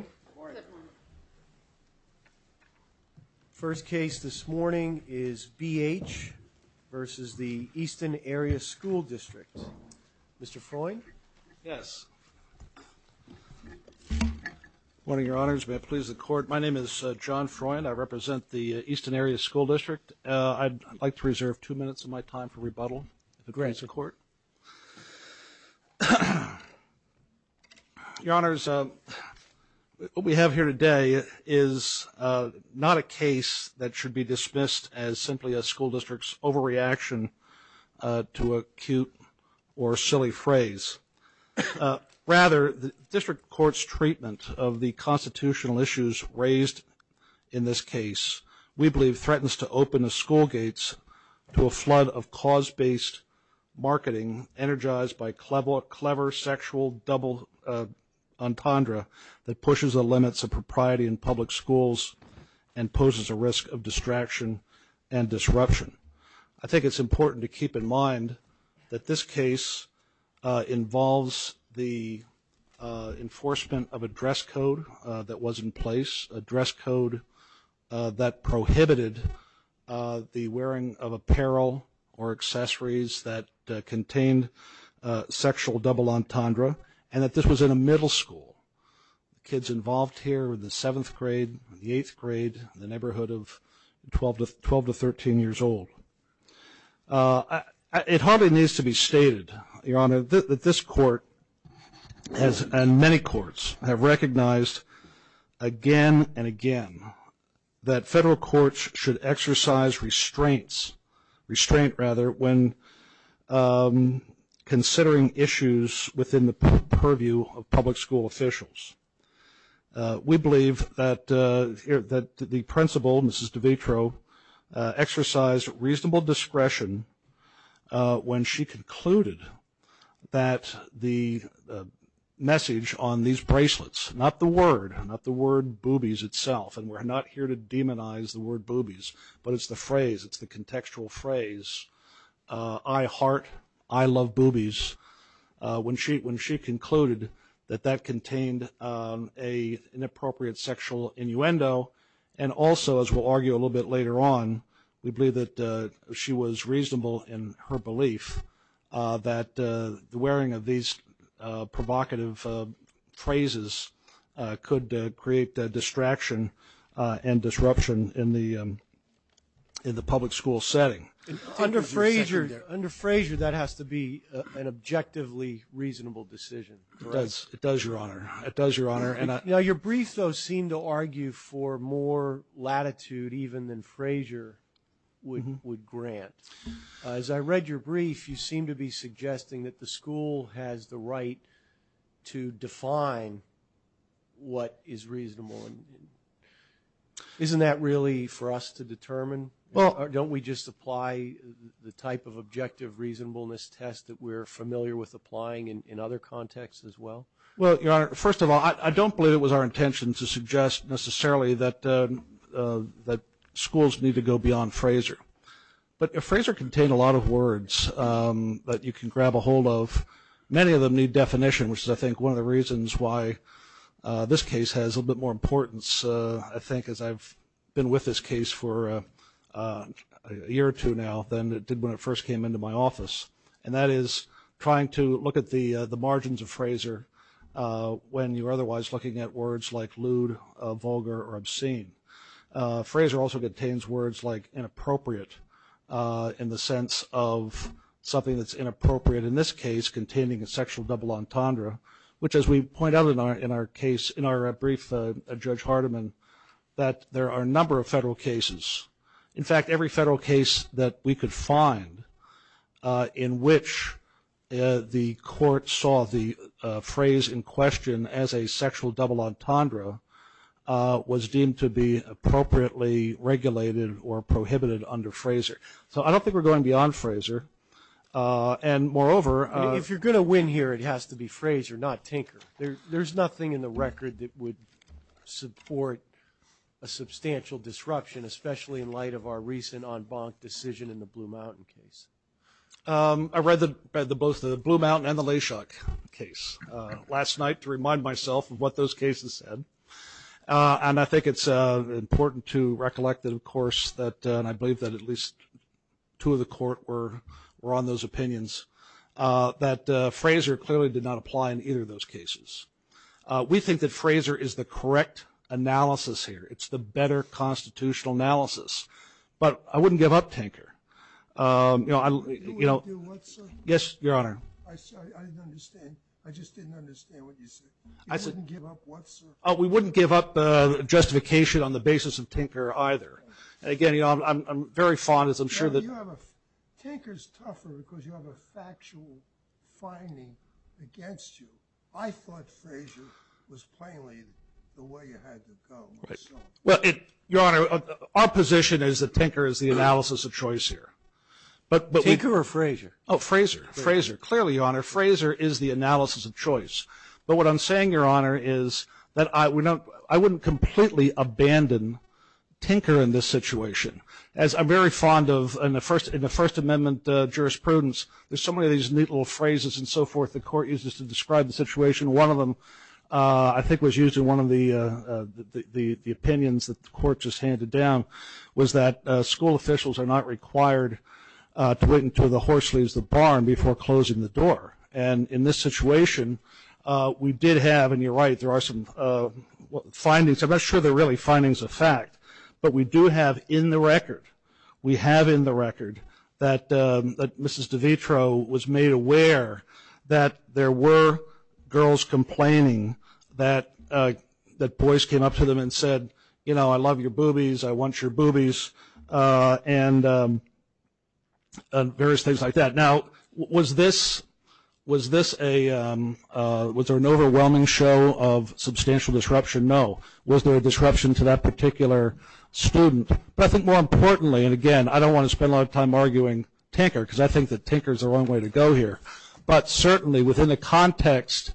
Mr. Freund, I'd like to reserve two minutes of my time for rebuttal of the Grants in Court. Your Honors, what we have here today is not a case that should be dismissed as simply a school district's overreaction to a cute or silly phrase. Rather, the District Court's treatment of the constitutional issues raised in this case, we believe, threatens to open the school gates to a flood of cause-based marketing energized by a clever sexual double entendre that pushes the limits of propriety in public schools and poses a risk of distraction and disruption. I think it's important to keep in mind that this case involves the enforcement of a dress code that was in place, a dress code that prohibited the wearing of apparel or accessories that contained sexual double entendre, and that this was in a middle school. The kids involved here were in the 7th grade, the 8th grade, the neighborhood of 12 to 13 years old. It hardly needs to be stated, Your Honor, that this Court and many courts have recognized again and again that federal courts should exercise restraints, restraint rather, when considering issues within the purview of public school officials. We believe that the principal, Mrs. DeVitro, exercised reasonable discretion when she concluded that the message on these bracelets, not the word, not the word boobies itself, and we're not here to demonize the word boobies, but it's the phrase, it's the contextual phrase, I heart, I love boobies, when she concluded that that contained an inappropriate sexual innuendo and also, as we'll argue a little bit later on, we believe that she was reasonable in her belief that the wearing of these provocative phrases could create distraction and disruption in the public school setting. Under Frazier, that has to be an objectively reasonable decision. It does, Your Honor. It does, Your Honor. Now, your brief, though, seemed to argue for more latitude even than Frazier would grant. As I read your brief, you seem to be suggesting that the school has the right to define what is reasonable. Isn't that really for us to determine? Don't we just apply the type of objective reasonableness test that we're familiar with applying in other contexts as well? Well, Your Honor, first of all, I don't believe it was our intention to suggest necessarily that schools need to go beyond Frazier. But if Frazier contained a lot of words that you can grab a hold of, many of them need definition, which is, I think, one of the reasons why this case has a little bit more importance, I think, as I've been with this case for a year or two now than it did when it first came into my office, and that is trying to look at the margins of Frazier when you're otherwise looking at words like lewd, vulgar, or obscene. Frazier also contains words like inappropriate in the sense of something that's inappropriate in this case containing a sexual double entendre, which, as we point out in our brief, Judge Hardiman, that there are a number of federal cases. In fact, every federal case that we could find in which the court saw the phrase in question as a sexual double entendre was deemed to be appropriately regulated or prohibited under Frazier. So I don't think we're going beyond Frazier. And, moreover, If you're going to win here, it has to be Frazier, not Tinker. There's nothing in the record that would support a substantial disruption, especially in light of our recent en banc decision in the Blue Mountain case. I read both the Blue Mountain and the Layshawk case last night to remind myself of what those cases said. And I think it's important to recollect that, of course, and I believe that at least two of the court were on those opinions, that Frazier clearly did not apply in either of those cases. We think that Frazier is the correct analysis here. It's the better constitutional analysis. But I wouldn't give up Tinker. Yes, Your Honor. I'm sorry, I didn't understand. I just didn't understand what you said. You wouldn't give up what, sir? We wouldn't give up justification on the basis of Tinker either. Again, I'm very fond, as I'm sure that Tinker's tougher because you have a factual finding against you. I thought Frazier was plainly the way you had to go. Well, Your Honor, our position is that Tinker is the analysis of choice here. Tinker or Frazier? Oh, Frazier. Frazier. Clearly, Your Honor, Frazier is the analysis of choice. But what I'm saying, Your Honor, is that I wouldn't completely abandon Tinker in this situation. I'm very fond of, in the First Amendment jurisprudence, there's so many of these neat little phrases and so forth that the Court uses to describe the situation. One of them I think was used in one of the opinions that the Court just handed down was that school officials are not required to wait until the horse leaves the barn before closing the door. And in this situation, we did have, and you're right, there are some findings. I'm not sure they're really findings of fact, but we do have in the record, we have in the record that Mrs. DeVitro was made aware that there were girls complaining that boys came up to them and said, you know, I love your boobies, I want your boobies, and various things like that. Now, was this an overwhelming show of substantial disruption? No. Was there a disruption to that particular student? But I think more importantly, and again, I don't want to spend a lot of time arguing Tinker, because I think that Tinker's the wrong way to go here, but certainly within the context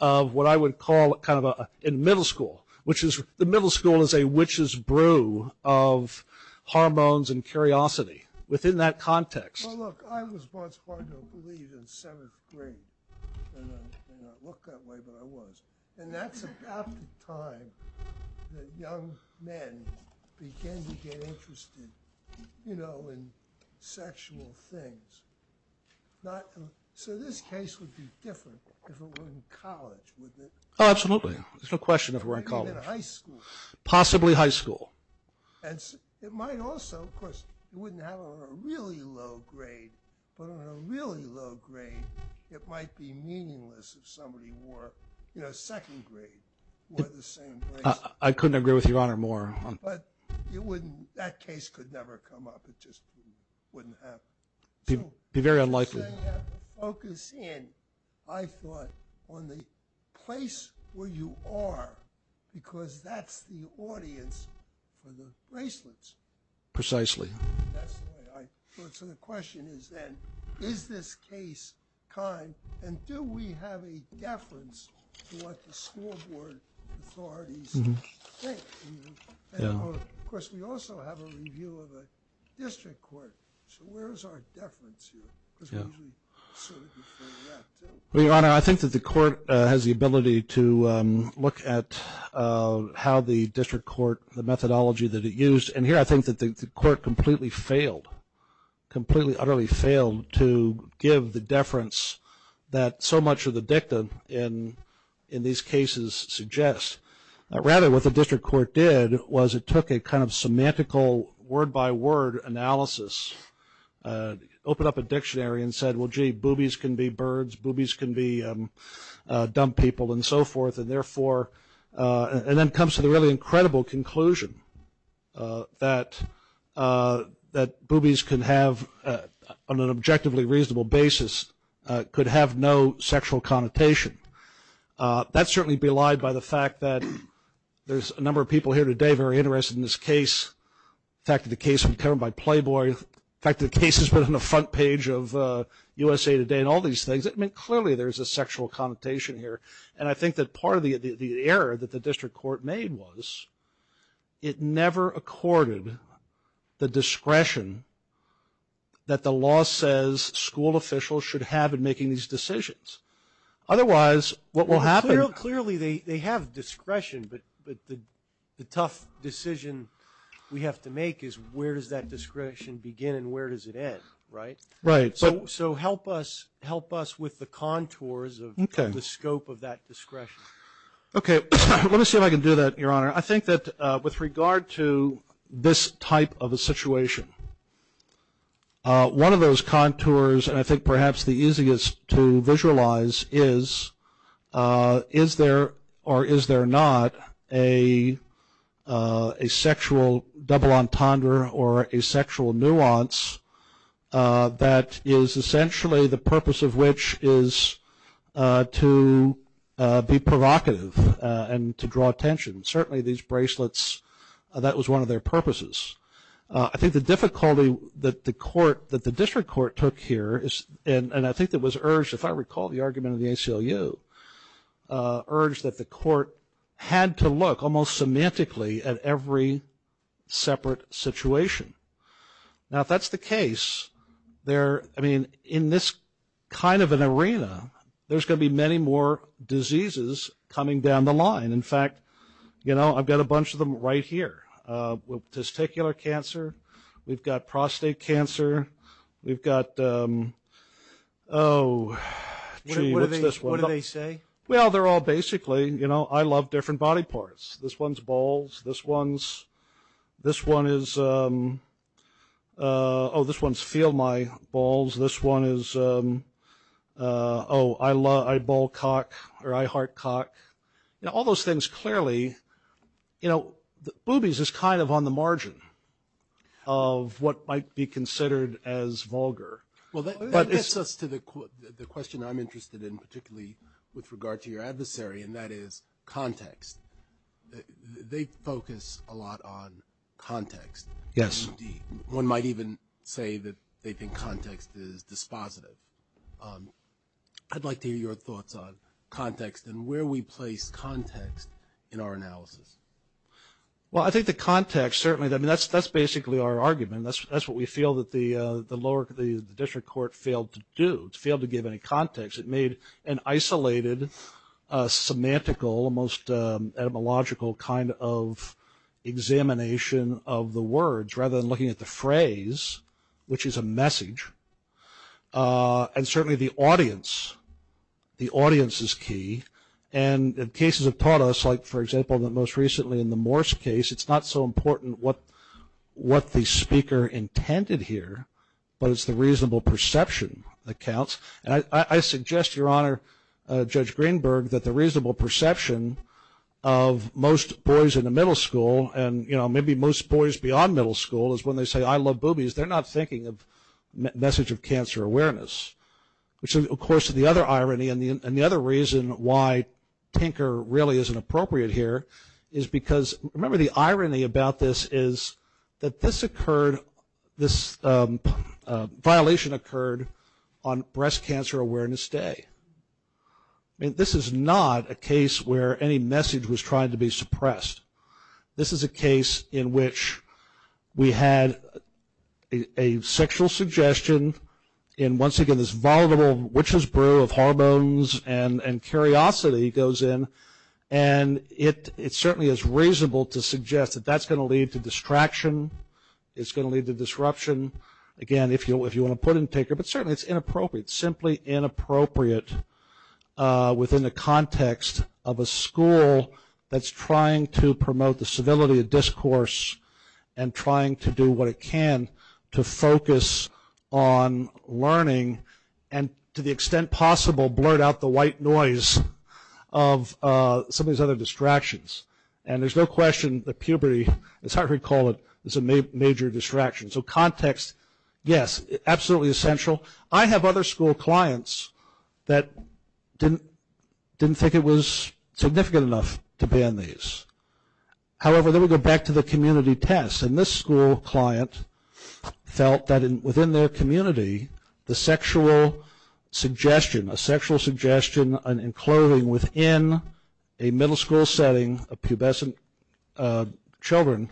of what I would call kind of in middle school, which is the middle school is a witch's brew of hormones and curiosity. Within that context. Well, look, I was once part of, I believe, in seventh grade. And I may not look that way, but I was. And that's about the time that young men began to get interested, you know, in sexual things. So this case would be different if it were in college, wouldn't it? Oh, absolutely. There's no question if it were in college. Even in high school. Possibly high school. It might also, of course, you wouldn't have it on a really low grade, but on a really low grade it might be meaningless if somebody were, you know, second grade. I couldn't agree with Your Honor more. But that case could never come up. It just wouldn't happen. It would be very unlikely. You say you have to focus in, I thought, on the place where you are, because that's the audience for the bracelets. Precisely. That's the way I thought. So the question is then, is this case kind? And do we have a deference to what the school board authorities think? Of course, we also have a review of a district court. So where is our deference here? Your Honor, I think that the court has the ability to look at how the district court, the methodology that it used. And here I think that the court completely failed, completely utterly failed to give the deference that so much of the dictum in these cases suggests. Rather, what the district court did was it took a kind of semantical word-by-word analysis, opened up a dictionary and said, well, gee, boobies can be birds, boobies can be dumb people, and so forth, and then comes to the really incredible conclusion that boobies can have, on an objectively reasonable basis, could have no sexual connotation. That's certainly belied by the fact that there's a number of people here today very interested in this case. In fact, the case was covered by Playboy. In fact, the case has been on the front page of USA Today and all these things. I mean, clearly there's a sexual connotation here. And I think that part of the error that the district court made was it never accorded the discretion that the law says school officials should have in making these decisions. Otherwise, what will happen? Well, clearly they have discretion, but the tough decision we have to make is where does that discretion begin and where does it end, right? Right. So help us with the contours of the scope of that discretion. Okay. Let me see if I can do that, Your Honor. I think that with regard to this type of a situation, one of those contours, and I think perhaps the easiest to visualize is is there or is there not a sexual double entendre or a sexual nuance that is essentially the purpose of which is to be provocative and to draw attention. Certainly these bracelets, that was one of their purposes. I think the difficulty that the court, that the district court took here, and I think it was urged, if I recall the argument of the ACLU, urged that the court had to look almost semantically at every separate situation. Now, if that's the case, there, I mean, in this kind of an arena, there's going to be many more diseases coming down the line. In fact, you know, I've got a bunch of them right here. We've got testicular cancer. We've got prostate cancer. We've got, oh, gee, what's this one? What do they say? Well, they're all basically, you know, I love different body parts. This one's balls. This one's, this one is, oh, this one's feel my balls. This one is, oh, I ball cock or I heart cock. You know, all those things clearly, you know, boobies is kind of on the margin of what might be considered as vulgar. Well, that gets us to the question I'm interested in, particularly with regard to your adversary, and that is context. They focus a lot on context. Yes. One might even say that they think context is dispositive. I'd like to hear your thoughts on context and where we place context in our analysis. Well, I think the context certainly, I mean, that's basically our argument. That's what we feel that the lower, the district court failed to do. It failed to give any context. It made an isolated, semantical, almost etymological kind of examination of the words, rather than looking at the phrase, which is a message. And certainly the audience, the audience is key. And cases have taught us, like, for example, that most recently in the Morse case, it's not so important what the speaker intended here, but it's the reasonable perception that counts. And I suggest, Your Honor, Judge Greenberg, that the reasonable perception of most boys in the middle school, and, you know, maybe most boys beyond middle school, is when they say, I love boobies, they're not thinking of message of cancer awareness, which of course is the other irony. And the other reason why Tinker really isn't appropriate here is because, remember the irony about this is that this occurred, this violation occurred on Breast Cancer Awareness Day. I mean, this is not a case where any message was trying to be suppressed. This is a case in which we had a sexual suggestion, and once again this volatile witch's brew of hormones and curiosity goes in, and it certainly is reasonable to suggest that that's going to lead to distraction, it's going to lead to disruption, again, if you want to put it in Tinker. But certainly it's inappropriate, simply inappropriate, within the context of a school that's trying to promote the civility of discourse and trying to do what it can to focus on learning and to the extent possible blurt out the white noise of some of these other distractions. And there's no question that puberty, as Hartford called it, is a major distraction. So context, yes, absolutely essential. I have other school clients that didn't think it was significant enough to ban these. However, then we go back to the community tests, and this school client felt that within their community the sexual suggestion, a sexual suggestion in clothing within a middle school setting of pubescent children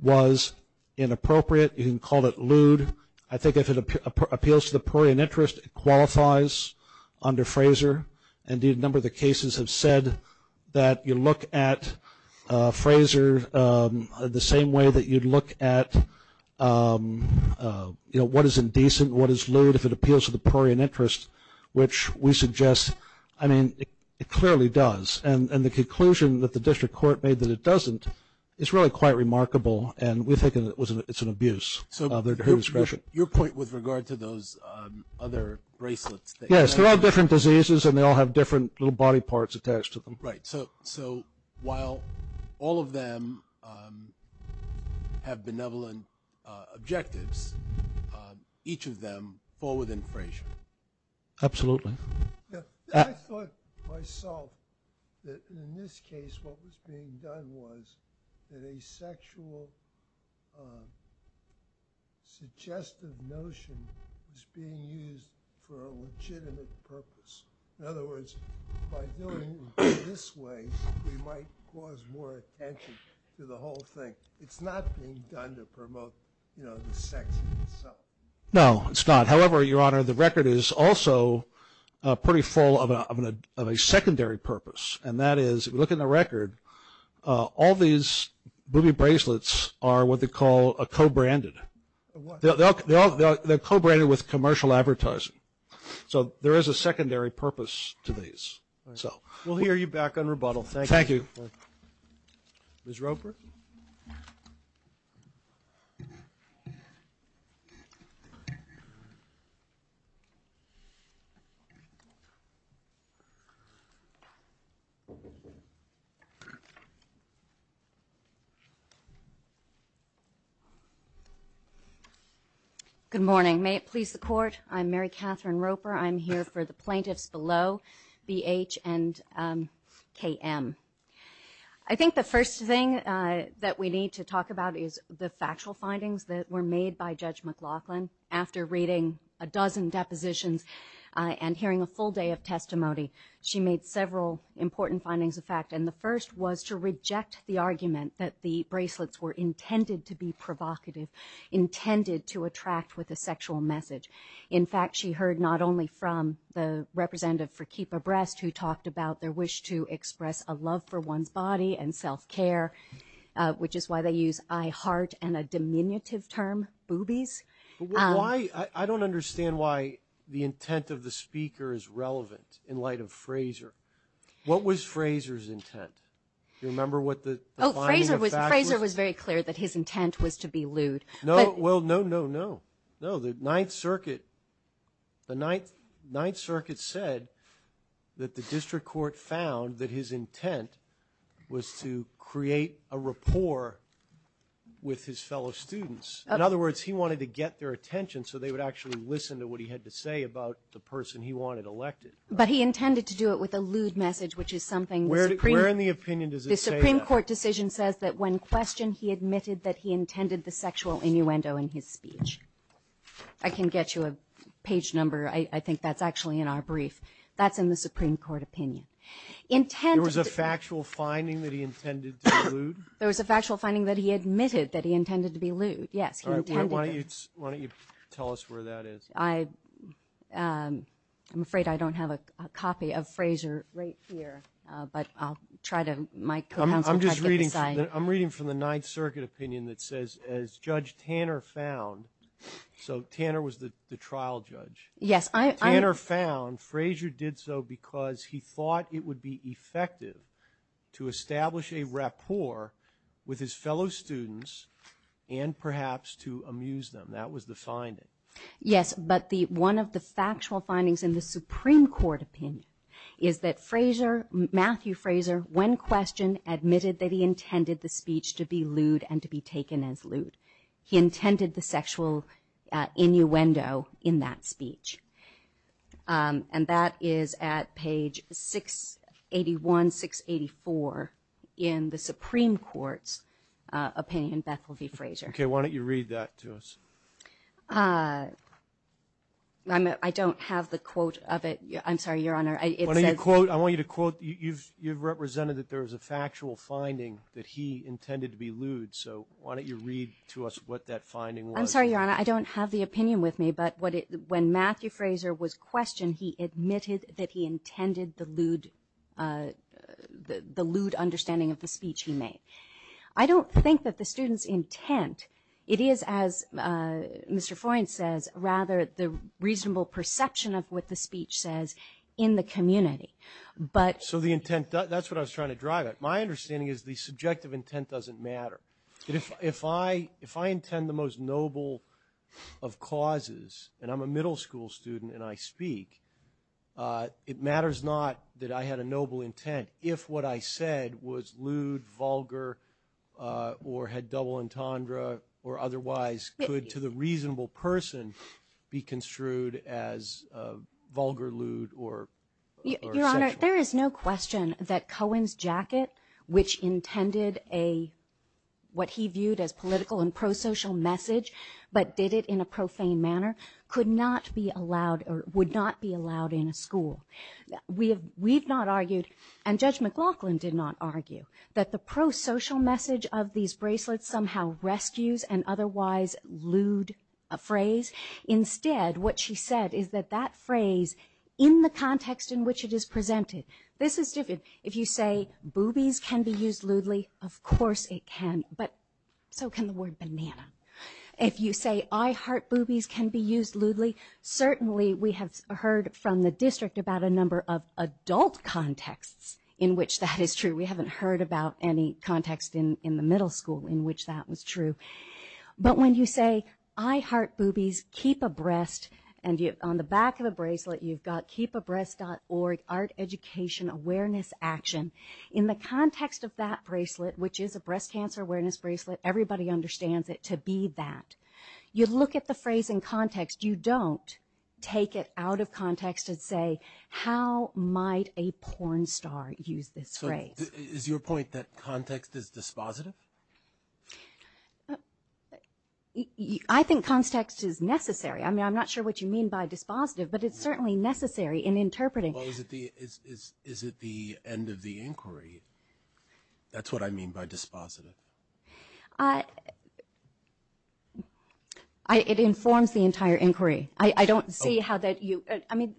was inappropriate, you can call it lewd. I think if it appeals to the prairie in interest, it qualifies under Fraser. Indeed, a number of the cases have said that you look at Fraser the same way that you'd look at, you know, what is indecent, what is lewd if it appeals to the prairie in interest, which we suggest, I mean, it clearly does. And the conclusion that the district court made that it doesn't is really quite remarkable, and we think it's an abuse. So your point with regard to those other bracelets. Yes, there are different diseases, and they all have different little body parts attached to them. Right. So while all of them have benevolent objectives, each of them fall within Fraser. Absolutely. I thought myself that in this case what was being done was that a sexual suggestive notion was being used for a legitimate purpose. In other words, by doing it this way, we might cause more attention to the whole thing. It's not being done to promote, you know, the sex in itself. No, it's not. However, Your Honor, the record is also pretty full of a secondary purpose, and that is if you look in the record, all these booby bracelets are what they call co-branded. They're co-branded with commercial advertising. So there is a secondary purpose to these. We'll hear you back on rebuttal. Thank you. Ms. Roper? Good morning. May it please the Court, I'm Mary Catherine Roper. I'm here for the plaintiffs below, B.H. and K.M. I think the first thing that we need to talk about is the factual findings that were made by Judge McLaughlin. After reading a dozen depositions and hearing a full day of testimony, she made several important findings of fact, and the first was to reject the argument that the bracelets were intended to be provocative, intended to attract with a sexual message. In fact, she heard not only from the representative for Keeper Breast, who talked about their wish to express a love for one's body and self-care, which is why they use I heart and a diminutive term, boobies. I don't understand why the intent of the speaker is relevant in light of Frazer. What was Frazer's intent? Do you remember what the finding of fact was? Oh, Frazer was very clear that his intent was to be lewd. Well, no, no, no. The Ninth Circuit said that the district court found that his intent was to create a rapport with his fellow students. In other words, he wanted to get their attention so they would actually listen to what he had to say about the person he wanted elected. But he intended to do it with a lewd message, which is something the Supreme Court decision says that when questioned, he admitted that he intended the sexual innuendo in his speech. I can get you a page number. I think that's actually in our brief. That's in the Supreme Court opinion. There was a factual finding that he intended to be lewd? There was a factual finding that he admitted that he intended to be lewd, yes. Why don't you tell us where that is? I'm afraid I don't have a copy of Frazer right here, but I'll try to. I'm reading from the Ninth Circuit opinion that says, as Judge Tanner found, so Tanner was the trial judge. Tanner found Frazer did so because he thought it would be effective to establish a rapport with his fellow students and perhaps to amuse them. That was the finding. Yes, but one of the factual findings in the Supreme Court opinion is that Matthew Frazer, when questioned, admitted that he intended the speech to be lewd and to be taken as lewd. He intended the sexual innuendo in that speech, and that is at page 681, 684 in the Supreme Court's opinion, Bethel v. Frazer. Okay. Why don't you read that to us? I don't have the quote of it. I'm sorry, Your Honor. I want you to quote. You've represented that there was a factual finding that he intended to be lewd, so why don't you read to us what that finding was? I'm sorry, Your Honor. I don't have the opinion with me, but when Matthew Frazer was questioned, he admitted that he intended the lewd understanding of the speech he made. I don't think that the student's intent, it is, as Mr. Foyne says, rather the reasonable perception of what the speech says in the community. So the intent, that's what I was trying to drive at. My understanding is the subjective intent doesn't matter. If I intend the most noble of causes, and I'm a middle school student and I speak, it matters not that I had a noble intent. If what I said was lewd, vulgar, or had double entendre, or otherwise could to the reasonable person be construed as vulgar, lewd, or sexual. Your Honor, there is no question that Cohen's jacket, which intended what he viewed as political and pro-social message, but did it in a profane manner, could not be allowed or would not be allowed in a school. We have not argued, and Judge McLaughlin did not argue, that the pro-social message of these bracelets somehow rescues an otherwise lewd phrase. Instead, what she said is that that phrase, in the context in which it is presented, this is different. If you say boobies can be used lewdly, of course it can, but so can the word banana. If you say I heart boobies can be used lewdly, certainly we have heard from the district about a number of adult contexts in which that is true. We haven't heard about any context in the middle school in which that was true. But when you say I heart boobies, keep abreast, and on the back of the bracelet you've got keepabreast.org, art, education, awareness, action. In the context of that bracelet, which is a breast cancer awareness bracelet, everybody understands it to be that. You look at the phrase in context. You don't take it out of context and say how might a porn star use this phrase? Is your point that context is dispositive? I think context is necessary. I'm not sure what you mean by dispositive, but it's certainly necessary in interpreting. Is it the end of the inquiry? That's what I mean by dispositive. It informs the entire inquiry. I don't see how that you – I mean,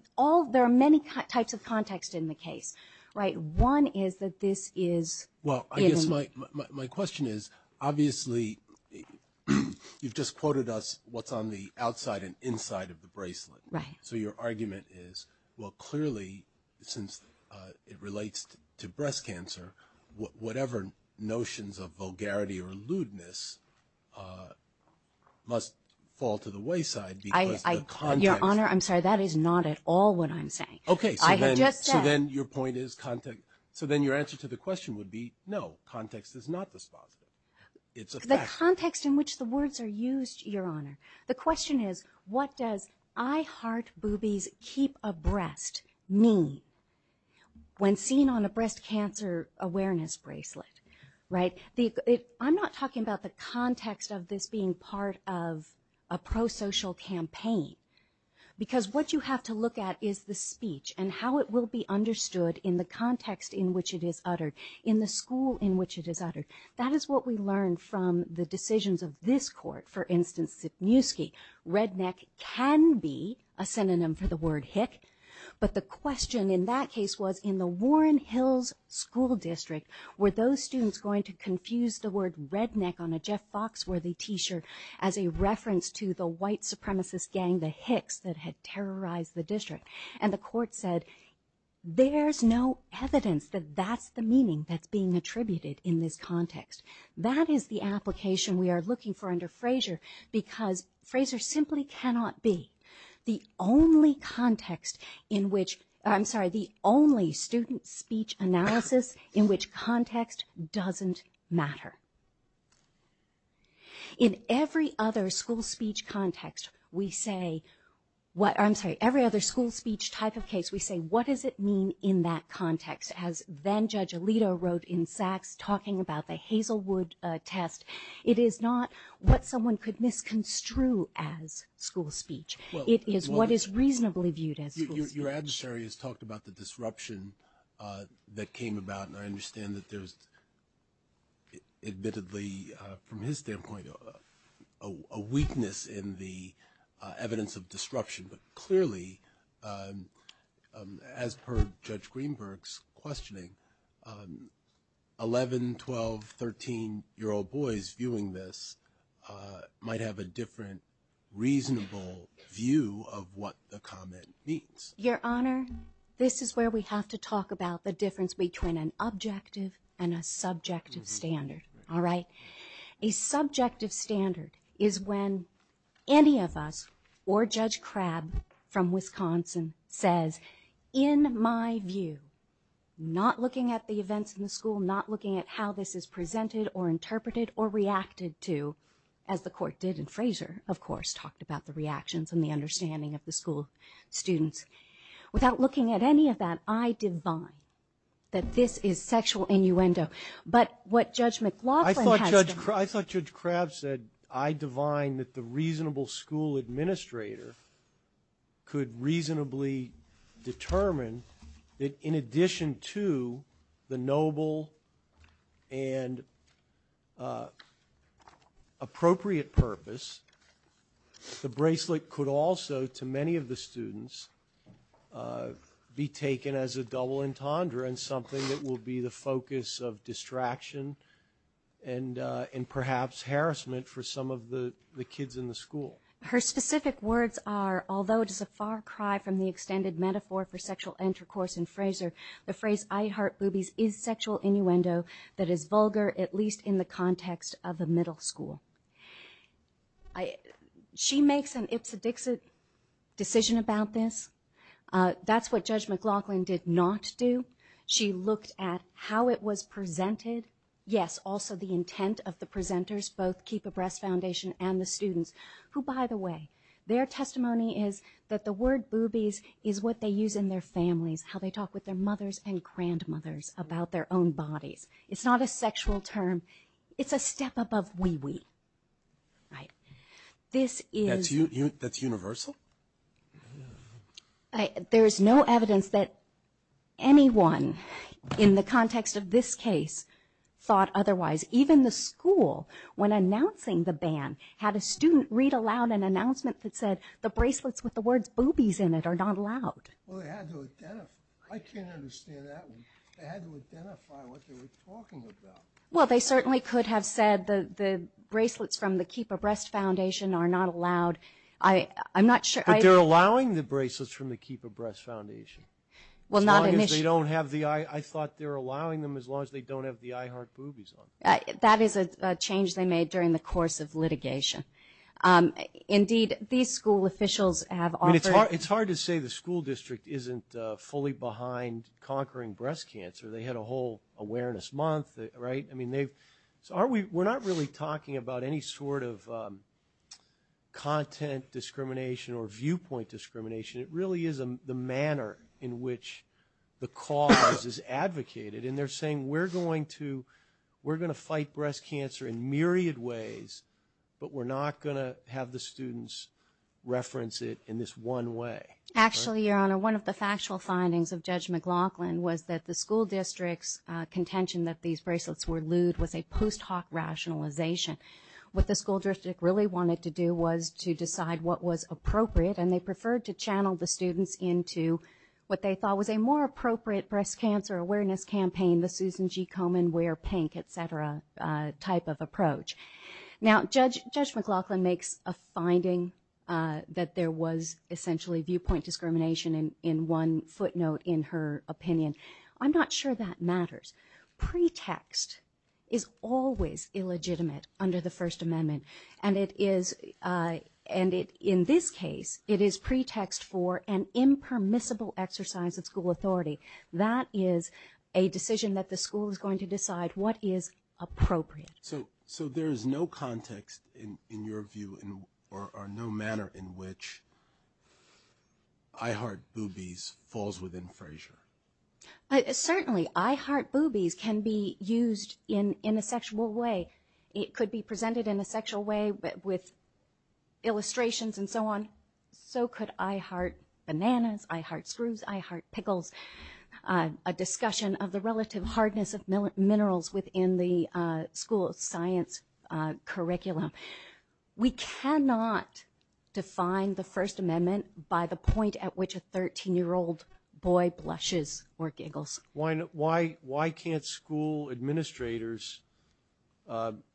there are many types of context in the case, right? One is that this is – Well, I guess my question is, obviously, you've just quoted us what's on the outside and inside of the bracelet. Right. So your argument is, well, clearly, since it relates to breast cancer, whatever notions of vulgarity or lewdness must fall to the wayside because the context – Your Honor, I'm sorry. That is not at all what I'm saying. Okay. I have just said – So then your point is – so then your answer to the question would be no, context is not dispositive. It's a fact. The context in which the words are used, Your Honor, the question is, what does I heart boobies keep abreast mean? When seen on a breast cancer awareness bracelet, right? I'm not talking about the context of this being part of a pro-social campaign because what you have to look at is the speech and how it will be understood in the context in which it is uttered, in the school in which it is uttered. That is what we learn from the decisions of this court. For instance, Sipniewski, redneck can be a synonym for the word hick, but the question in that case was, in the Warren Hills School District, were those students going to confuse the word redneck on a Jeff Foxworthy T-shirt as a reference to the white supremacist gang, the Hicks, that had terrorized the district? And the court said, there's no evidence that that's the meaning that's being attributed in this context. That is the application we are looking for under Fraser because Fraser simply cannot be. The only context in which... I'm sorry, the only student speech analysis in which context doesn't matter. In every other school speech context, we say... I'm sorry, every other school speech type of case, we say, what does it mean in that context? As then-Judge Alito wrote in Sachs, talking about the Hazelwood test, it is not what someone could misconstrue as school speech. It is what is reasonably viewed as school speech. Your adversary has talked about the disruption that came about, and I understand that there's admittedly, from his standpoint, a weakness in the evidence of disruption. But clearly, as per Judge Greenberg's questioning, 11-, 12-, 13-year-old boys viewing this might have a different reasonable view of what the comment means. Your Honor, this is where we have to talk about the difference between an objective and a subjective standard, all right? A subjective standard is when any of us, or Judge Crabb from Wisconsin, says, in my view, not looking at the events in the school, not looking at how this is presented or interpreted or reacted to, as the Court did in Fraser, of course, talked about the reactions and the understanding of the school students. Without looking at any of that, I divine that this is sexual innuendo. But what Judge McLaughlin has done... I thought Judge Crabb said, I divine that the reasonable school administrator could reasonably determine that, in addition to the noble and appropriate purpose, the bracelet could also, to many of the students, be taken as a double entendre and something that will be the focus of distraction and perhaps harassment for some of the kids in the school. Her specific words are, although it is a far cry from the extended metaphor for sexual intercourse in Fraser, the phrase, I heart boobies, is sexual innuendo that is vulgar, at least in the context of a middle school. She makes an ipsedixit decision about this. That's what Judge McLaughlin did not do. She looked at how it was presented. Yes, also the intent of the presenters, both Keep a Breast Foundation and the students, who, by the way, their testimony is that the word boobies is what they use in their families, how they talk with their mothers and grandmothers about their own bodies. It's not a sexual term. It's a step above wee-wee. This is... That's universal? There is no evidence that anyone, in the context of this case, thought otherwise. Even the school, when announcing the ban, had a student read aloud an announcement that said the bracelets with the words boobies in it are not allowed. Well, they had to identify... I can't understand that. They had to identify what they were talking about. Well, they certainly could have said the bracelets from the Keep a Breast Foundation are not allowed. I'm not sure... But they're allowing the bracelets from the Keep a Breast Foundation. As long as they don't have the... I thought they're allowing them as long as they don't have the I heart boobies on. That is a change they made during the course of litigation. Indeed, these school officials have offered... I mean, it's hard to say the school district isn't fully behind conquering breast cancer. They had a whole awareness month, right? I mean, they've... We're not really talking about any sort of content discrimination or viewpoint discrimination. It really is the manner in which the cause is advocated. And they're saying, we're going to fight breast cancer in myriad ways, but we're not going to have the students reference it in this one way. Actually, Your Honor, one of the factual findings of Judge McLaughlin was that the school district's contention that these bracelets were lewd was a post-hoc rationalization. What the school district really wanted to do was to decide what was appropriate, and they preferred to channel the students into what they thought was a more appropriate breast cancer awareness campaign, the Susan G. Komen wear pink, et cetera, type of approach. Now, Judge McLaughlin makes a finding that there was essentially viewpoint discrimination in one footnote in her opinion. I'm not sure that matters. Pretext is always illegitimate under the First Amendment, and it is... And in this case, it is pretext for an impermissible exercise of school authority. That is a decision that the school is going to decide what is appropriate. So there is no context, in your view, or no manner in which I heart boobies falls within Frazier? Certainly. I heart boobies can be used in a sexual way. It could be presented in a sexual way with illustrations and so on. So could I heart bananas, I heart screws, I heart pickles, a discussion of the relative hardness of minerals within the school science curriculum. We cannot define the First Amendment by the point at which a 13-year-old boy blushes or giggles. Why can't school administrators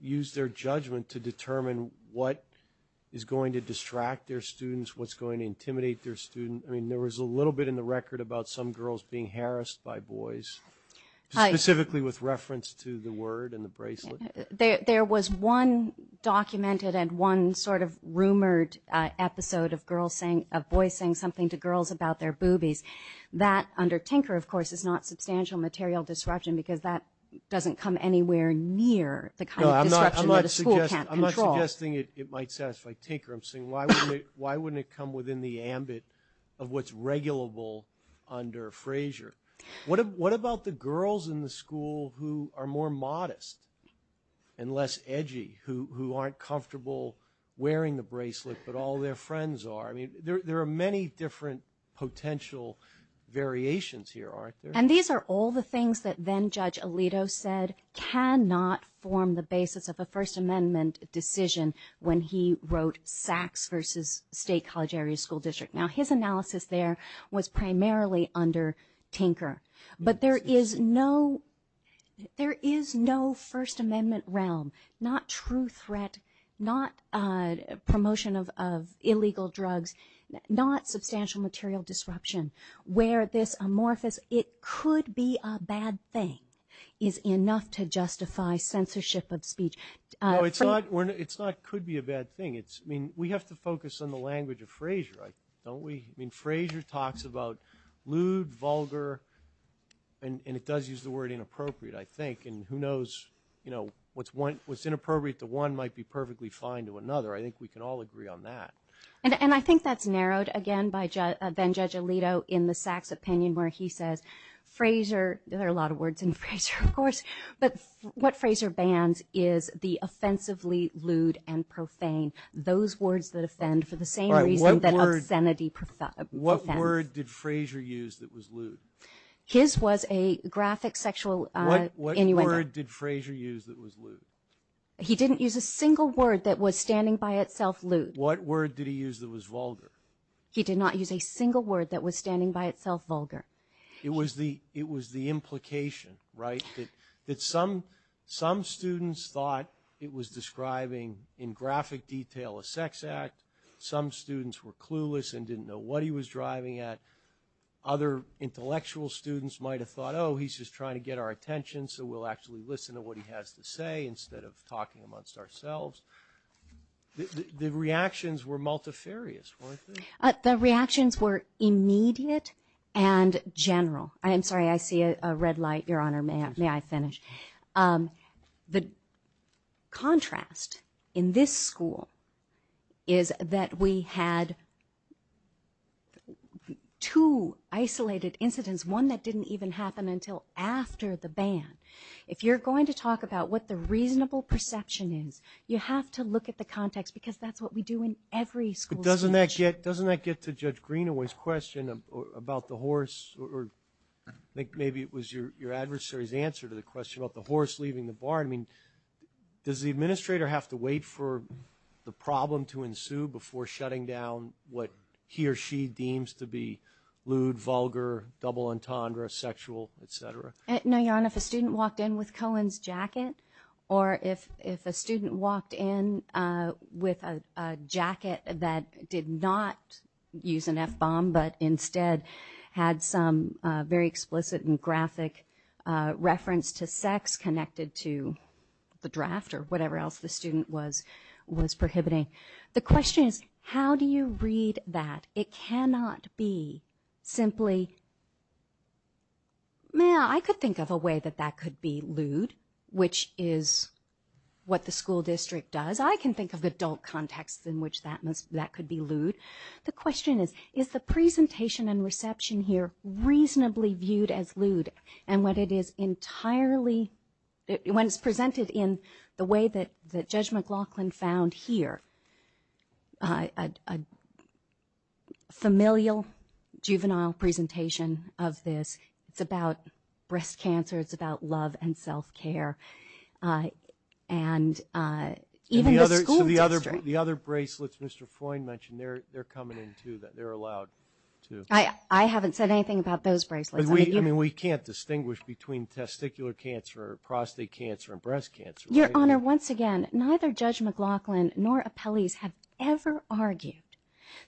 use their judgment to determine what is going to distract their students, what's going to intimidate their students? I mean, there was a little bit in the record about some girls being harassed by boys, specifically with reference to the word and the bracelet. There was one documented and one sort of rumored episode of boys saying something to girls about their boobies. That, under Tinker, of course, is not substantial material disruption because that doesn't come anywhere near the kind of disruption that a school can't control. I'm not suggesting it might satisfy Tinker. I'm saying why wouldn't it come within the ambit of what's regulable under Frazier? What about the girls in the school who are more modest and less edgy, who aren't comfortable wearing the bracelet, but all their friends are? There are many different potential variations here, aren't there? And these are all the things that then-Judge Alito said cannot form the basis of a First Amendment decision when he wrote Sachs v. State College Area School District. Now, his analysis there was primarily under Tinker, but there is no First Amendment realm, not true threat, not promotion of illegal drugs, not substantial material disruption, where this amorphous, it could be a bad thing, is enough to justify censorship of speech. No, it's not could be a bad thing. We have to focus on the language of Frazier, don't we? Frazier talks about lewd, vulgar, and it does use the word inappropriate, I think, and who knows, what's inappropriate to one might be perfectly fine to another. I think we can all agree on that. And I think that's narrowed, again, by then-Judge Alito in the Sachs opinion where he says Frazier, there are a lot of words in Frazier, of course, but what Frazier bans is the offensively lewd and profane, those words that offend for the same reason that obscenity offends. What word did Frazier use that was lewd? His was a graphic sexual innuendo. What word did Frazier use that was lewd? He didn't use a single word that was standing by itself lewd. What word did he use that was vulgar? He did not use a single word that was standing by itself vulgar. It was the implication, right, that some students thought it was describing in graphic detail a sex act, some students were clueless and didn't know what he was driving at, other intellectual students might have thought, oh, he's just trying to get our attention so we'll actually listen to what he has to say instead of talking amongst ourselves. The reactions were multifarious, weren't they? The reactions were immediate and general. I'm sorry, I see a red light, Your Honor. May I finish? The contrast in this school is that we had two isolated incidents, one that didn't even happen until after the ban. If you're going to talk about what the reasonable perception is, you have to look at the context because that's what we do in every school. Doesn't that get to Judge Greenaway's question about the horse or maybe it was your adversary's answer to the question about the horse leaving the barn? Does the administrator have to wait for the problem to ensue before shutting down what he or she deems to be lewd, vulgar, double entendre, sexual, etc.? No, Your Honor. If a student walked in with Cohen's jacket or if a student walked in with a jacket that did not use an F-bomb but instead had some very explicit and graphic reference to sex connected to the draft or whatever else the student was prohibiting, the question is how do you read that? It cannot be simply, I could think of a way that that could be lewd, which is what the school district does. I can think of adult contexts in which that could be lewd. The question is, is the presentation and reception here reasonably viewed as lewd and what it is entirely, when it's presented in the way that Judge McLaughlin found here, a familial, juvenile presentation of this, it's about breast cancer, it's about love and self-care, and even the school district. So the other bracelets Mr. Freund mentioned, they're coming in too, they're allowed too. I haven't said anything about those bracelets. We can't distinguish between testicular cancer or prostate cancer and breast cancer. Your Honor, once again, neither Judge McLaughlin nor appellees have ever argued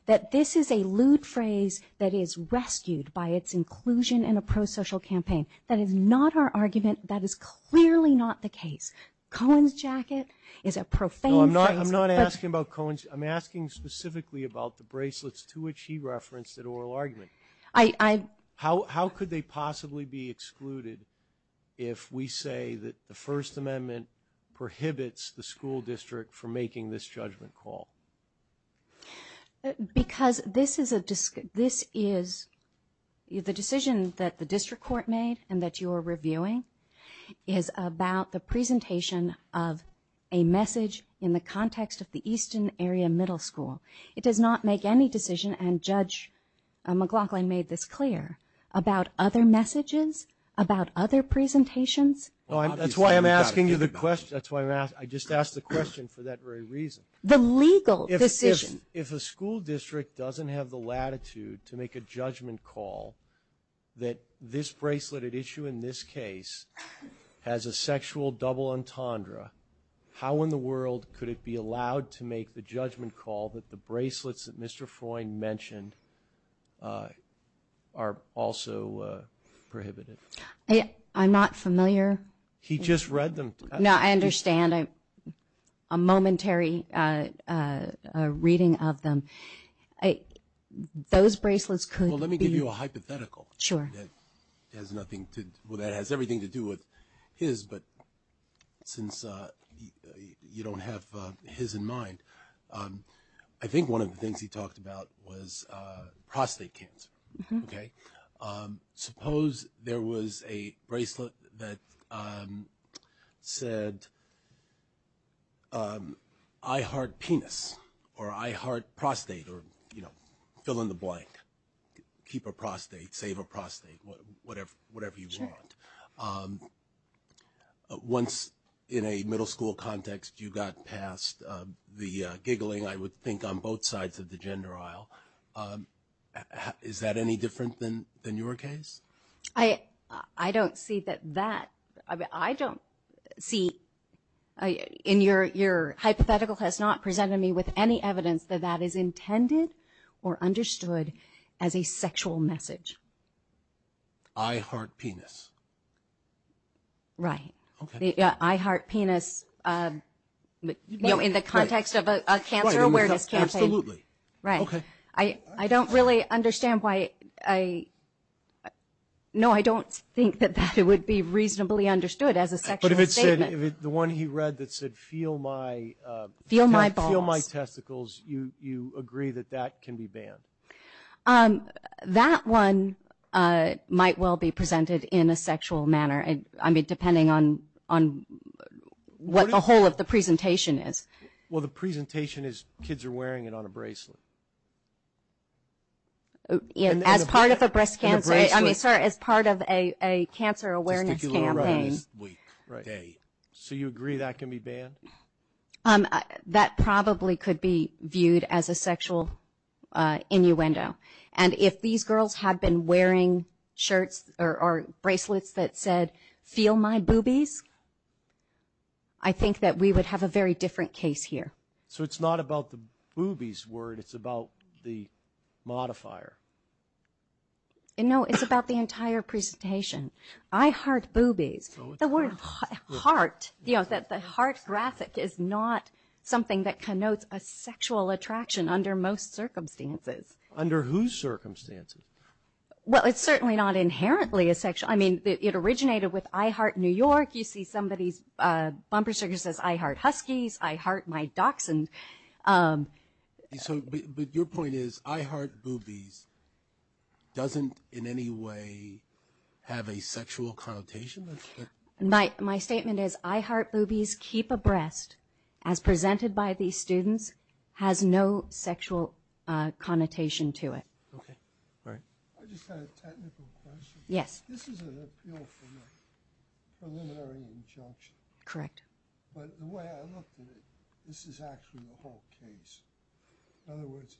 that this is a lewd phrase that is rescued by its inclusion in a pro-social campaign. That is not our argument, that is clearly not the case. Cohen's jacket is a profane phrase. I'm not asking about Cohen's, I'm asking specifically about the bracelets to which he referenced in oral argument. How could they possibly be excluded if we say that the First Amendment prohibits the school district from making this judgment call? Because this is, the decision that the district court made and that you are reviewing is about the presentation of a message in the context of the Eastern Area Middle School. It does not make any decision, and Judge McLaughlin made this clear, about other messages, about other presentations. That's why I'm asking you the question. I just asked the question for that very reason. The legal decision. If a school district doesn't have the latitude to make a judgment call that this bracelet at issue in this case has a sexual double entendre, how in the world could it be allowed to make the judgment call that the bracelets that Mr. Freund mentioned are also prohibited? I'm not familiar. He just read them. No, I understand. A momentary reading of them. Those bracelets could be... Well, let me give you a hypothetical. Sure. That has everything to do with his, but since you don't have his in mind, I think one of the things he talked about was prostate cancer. Mm-hmm. Okay? Suppose there was a bracelet that said, I heart penis, or I heart prostate, or fill in the blank. Keep a prostate, save a prostate, whatever you want. Once in a middle school context, you got past the giggling, I would think, on both sides of the gender aisle. Is that any different than your case? I don't see that that... I don't see... Your hypothetical has not presented me with any evidence that that is intended or understood as a sexual message. I heart penis. Right. Okay. The I heart penis, you know, in the context of a cancer awareness campaign. Right, absolutely. Right. Okay. I don't really understand why I... No, I don't think that that would be reasonably understood as a sexual statement. But if it said, the one he read that said, feel my... Feel my balls. Feel my testicles, you agree that that can be banned? That one might well be presented in a sexual manner. I mean, depending on what the whole of the presentation is. Well, the presentation is, kids are wearing it on a bracelet. As part of a breast cancer... On a bracelet. I mean, sir, as part of a cancer awareness campaign. Testicular arrhythmias week, day. So you agree that can be banned? That probably could be viewed as a sexual innuendo. And if these girls had been wearing shirts or bracelets that said, feel my boobies, I think that we would have a very different case here. So it's not about the boobies word, it's about the modifier. No, it's about the entire presentation. I heart boobies. The word heart, you know, the heart graphic is not something that connotes a sexual attraction under most circumstances. Under whose circumstances? Well, it's certainly not inherently a sexual... I mean, it originated with I heart New York. You see somebody's bumper sticker says, I heart Huskies, I heart my docs. But your point is, I heart boobies doesn't in any way have a sexual connotation? My statement is, I heart boobies keep abreast, as presented by these students, has no sexual connotation to it. Okay, all right. I just had a technical question. Yes. This is an appeal from a preliminary injunction. Correct. But the way I looked at it, this is actually the whole case. In other words,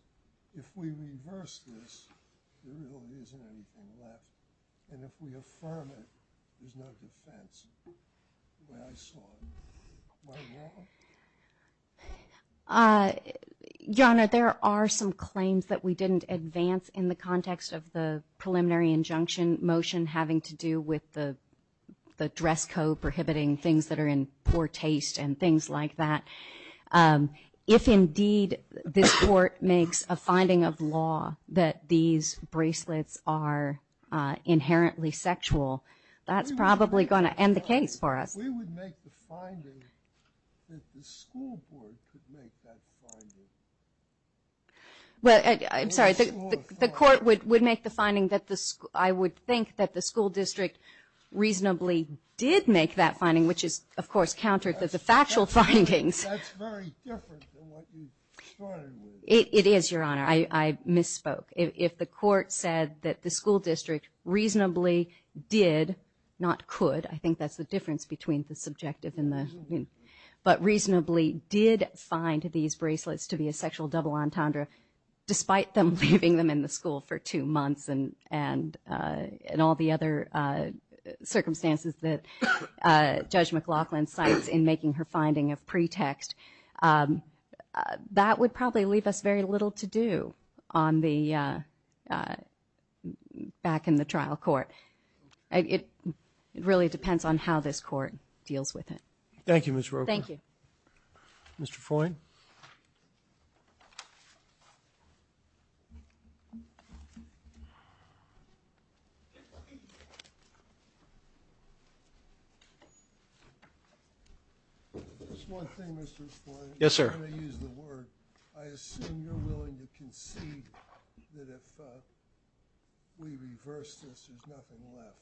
if we reverse this, there really isn't anything left. And if we affirm it, there's no defense. The way I saw it. Am I wrong? Your Honor, there are some claims that we didn't advance in the context of the preliminary injunction motion having to do with the dress code prohibiting things that are in poor taste and things like that. If indeed this court makes a finding of law that these bracelets are inherently sexual, that's probably going to end the case for us. We would make the finding that the school board could make that finding. I'm sorry. The court would make the finding that I would think that the school district reasonably did make that finding, which is, of course, counter to the factual findings. That's very different than what you started with. It is, Your Honor. I misspoke. If the court said that the school district reasonably did, not could, I think that's the difference between the subjective and the... But reasonably did find these bracelets to be a sexual double entendre, despite them leaving them in the school for two months and all the other circumstances that Judge McLaughlin cites in making her finding of pretext, that would probably leave us very little to do back in the trial court. It really depends on how this court deals with it. Thank you, Ms. Rocha. Thank you. Mr. Foyne. Just one thing, Mr. Foyne. Yes, sir. I'm going to use the word. I assume you're willing to concede that if we reverse this, there's nothing left.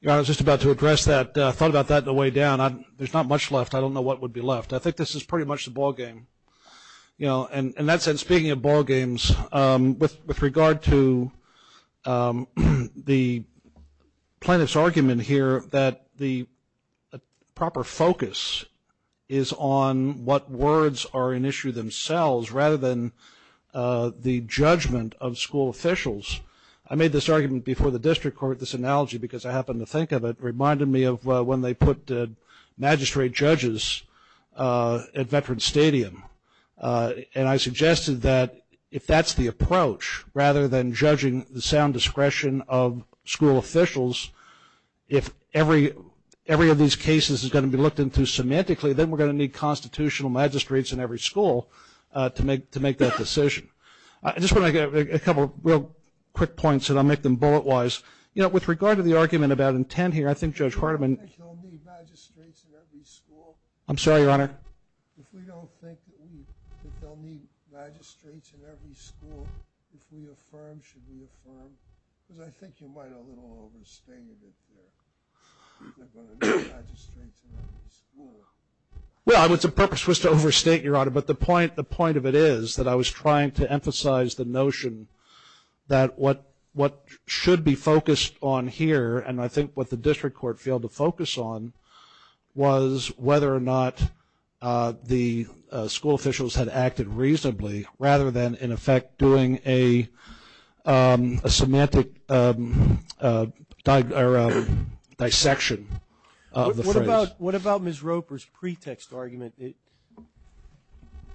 Your Honor, I was just about to address that. I thought about that on the way down. There's not much left. I don't know what would be left. I think this is pretty much the ballgame. I think this is pretty much the ballgame. That said, speaking of ballgames, with regard to the plaintiff's argument here that the proper focus is on what words are an issue themselves rather than the judgment of school officials. I made this argument before the district court, this analogy, because I happened to think of it, and it reminded me of when they put magistrate judges at Veterans Stadium. And I suggested that if that's the approach, rather than judging the sound discretion of school officials, if every of these cases is going to be looked into semantically, then we're going to need constitutional magistrates in every school to make that decision. I just want to make a couple of real quick points, and I'll make them bullet-wise. You know, with regard to the argument about intent here, I think Judge Hardiman... I'm sorry, Your Honor. Well, the purpose was to overstate, Your Honor, but the point of it is that I was trying to emphasize the notion that what should be focused on here, and I think what the district court failed to focus on, was whether or not the school officials had acted reasonably rather than, in effect, doing a semantic dissection of the phrase. What about Ms. Roper's pretext argument? I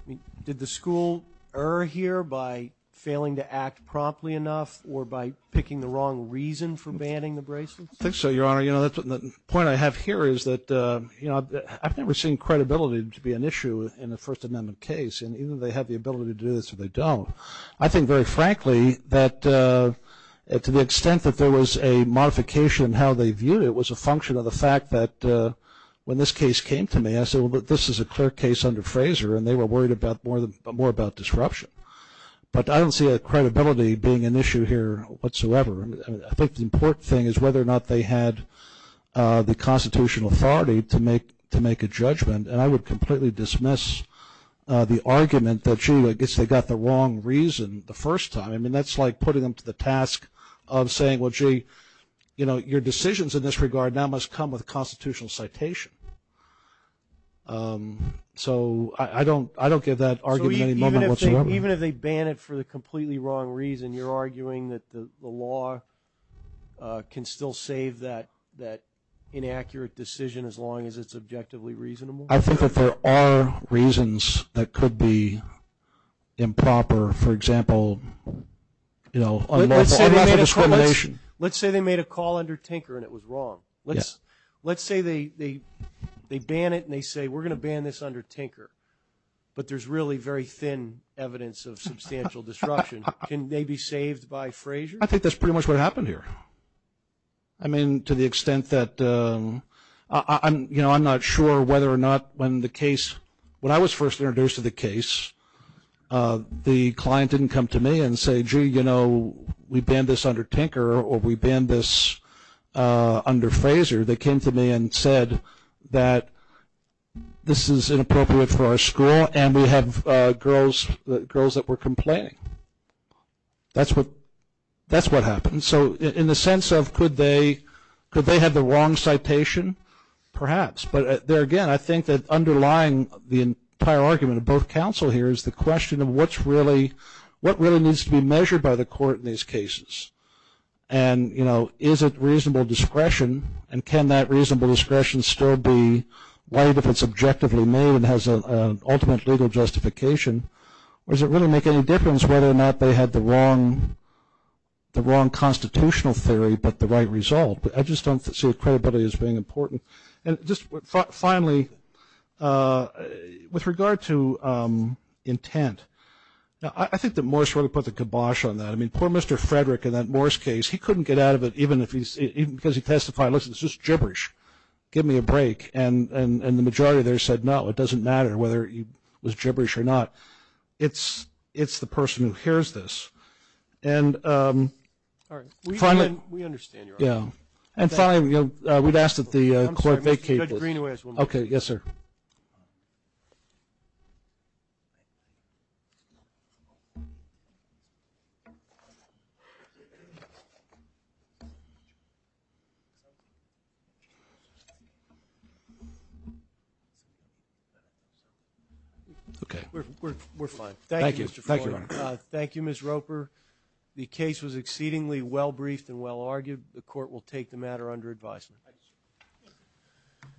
mean, did the school err here by failing to act promptly enough or by picking the wrong reason for banning the bracelets? I think so, Your Honor. You know, the point I have here is that, you know, I've never seen credibility to be an issue in a First Amendment case, and either they have the ability to do this or they don't. I think, very frankly, that to the extent that there was a modification in how they viewed it, it was a function of the fact that when this case came to me, I said, well, this is a clear case under Fraser, and they were worried more about disruption. But I don't see credibility being an issue here whatsoever. I think the important thing is whether or not they had the constitutional authority to make a judgment, and I would completely dismiss the argument that, gee, I guess they got the wrong reason the first time. I mean, that's like putting them to the task of saying, well, gee, your decisions in this regard now must come with constitutional citation. So I don't give that argument any moment whatsoever. So even if they ban it for the completely wrong reason, you're arguing that the law can still save that inaccurate decision as long as it's objectively reasonable? I think that there are reasons that could be improper. For example, you know, unlawful discrimination. Let's say they made a call under Tinker and it was wrong. Let's say they ban it and they say, we're going to ban this under Tinker, but there's really very thin evidence of substantial disruption. Can they be saved by Fraser? I think that's pretty much what happened here. I mean, to the extent that I'm not sure whether or not when the case – when I was first introduced to the case, the client didn't come to me and say, gee, you know, we banned this under Tinker or we banned this under Fraser. They came to me and said that this is inappropriate for our school and we have girls that were complaining. That's what happened. So in the sense of could they have the wrong citation? Perhaps. But there again, I think that underlying the entire argument of both counsel here is the question of what really needs to be measured by the court in these cases. And, you know, is it reasonable discretion and can that reasonable discretion still be right if it's objectively made and has an ultimate legal justification? Or does it really make any difference whether or not they had the wrong constitutional theory but the right result? I just don't see credibility as being important. And just finally, with regard to intent, I think that Morris really put the kibosh on that. I mean, poor Mr. Frederick in that Morris case. He couldn't get out of it even because he testified, listen, it's just gibberish. Give me a break. And the majority there said, no, it doesn't matter whether it was gibberish or not. It's the person who hears this. And finally – We understand your argument. Yeah. And finally, we've asked that the court vacate this. Okay. Yes, sir. Okay. We're fine. Thank you, Mr. Floyd. Thank you, Ms. Roper. The case was exceedingly well briefed and well argued. The court will take the matter under advisement. Thank you.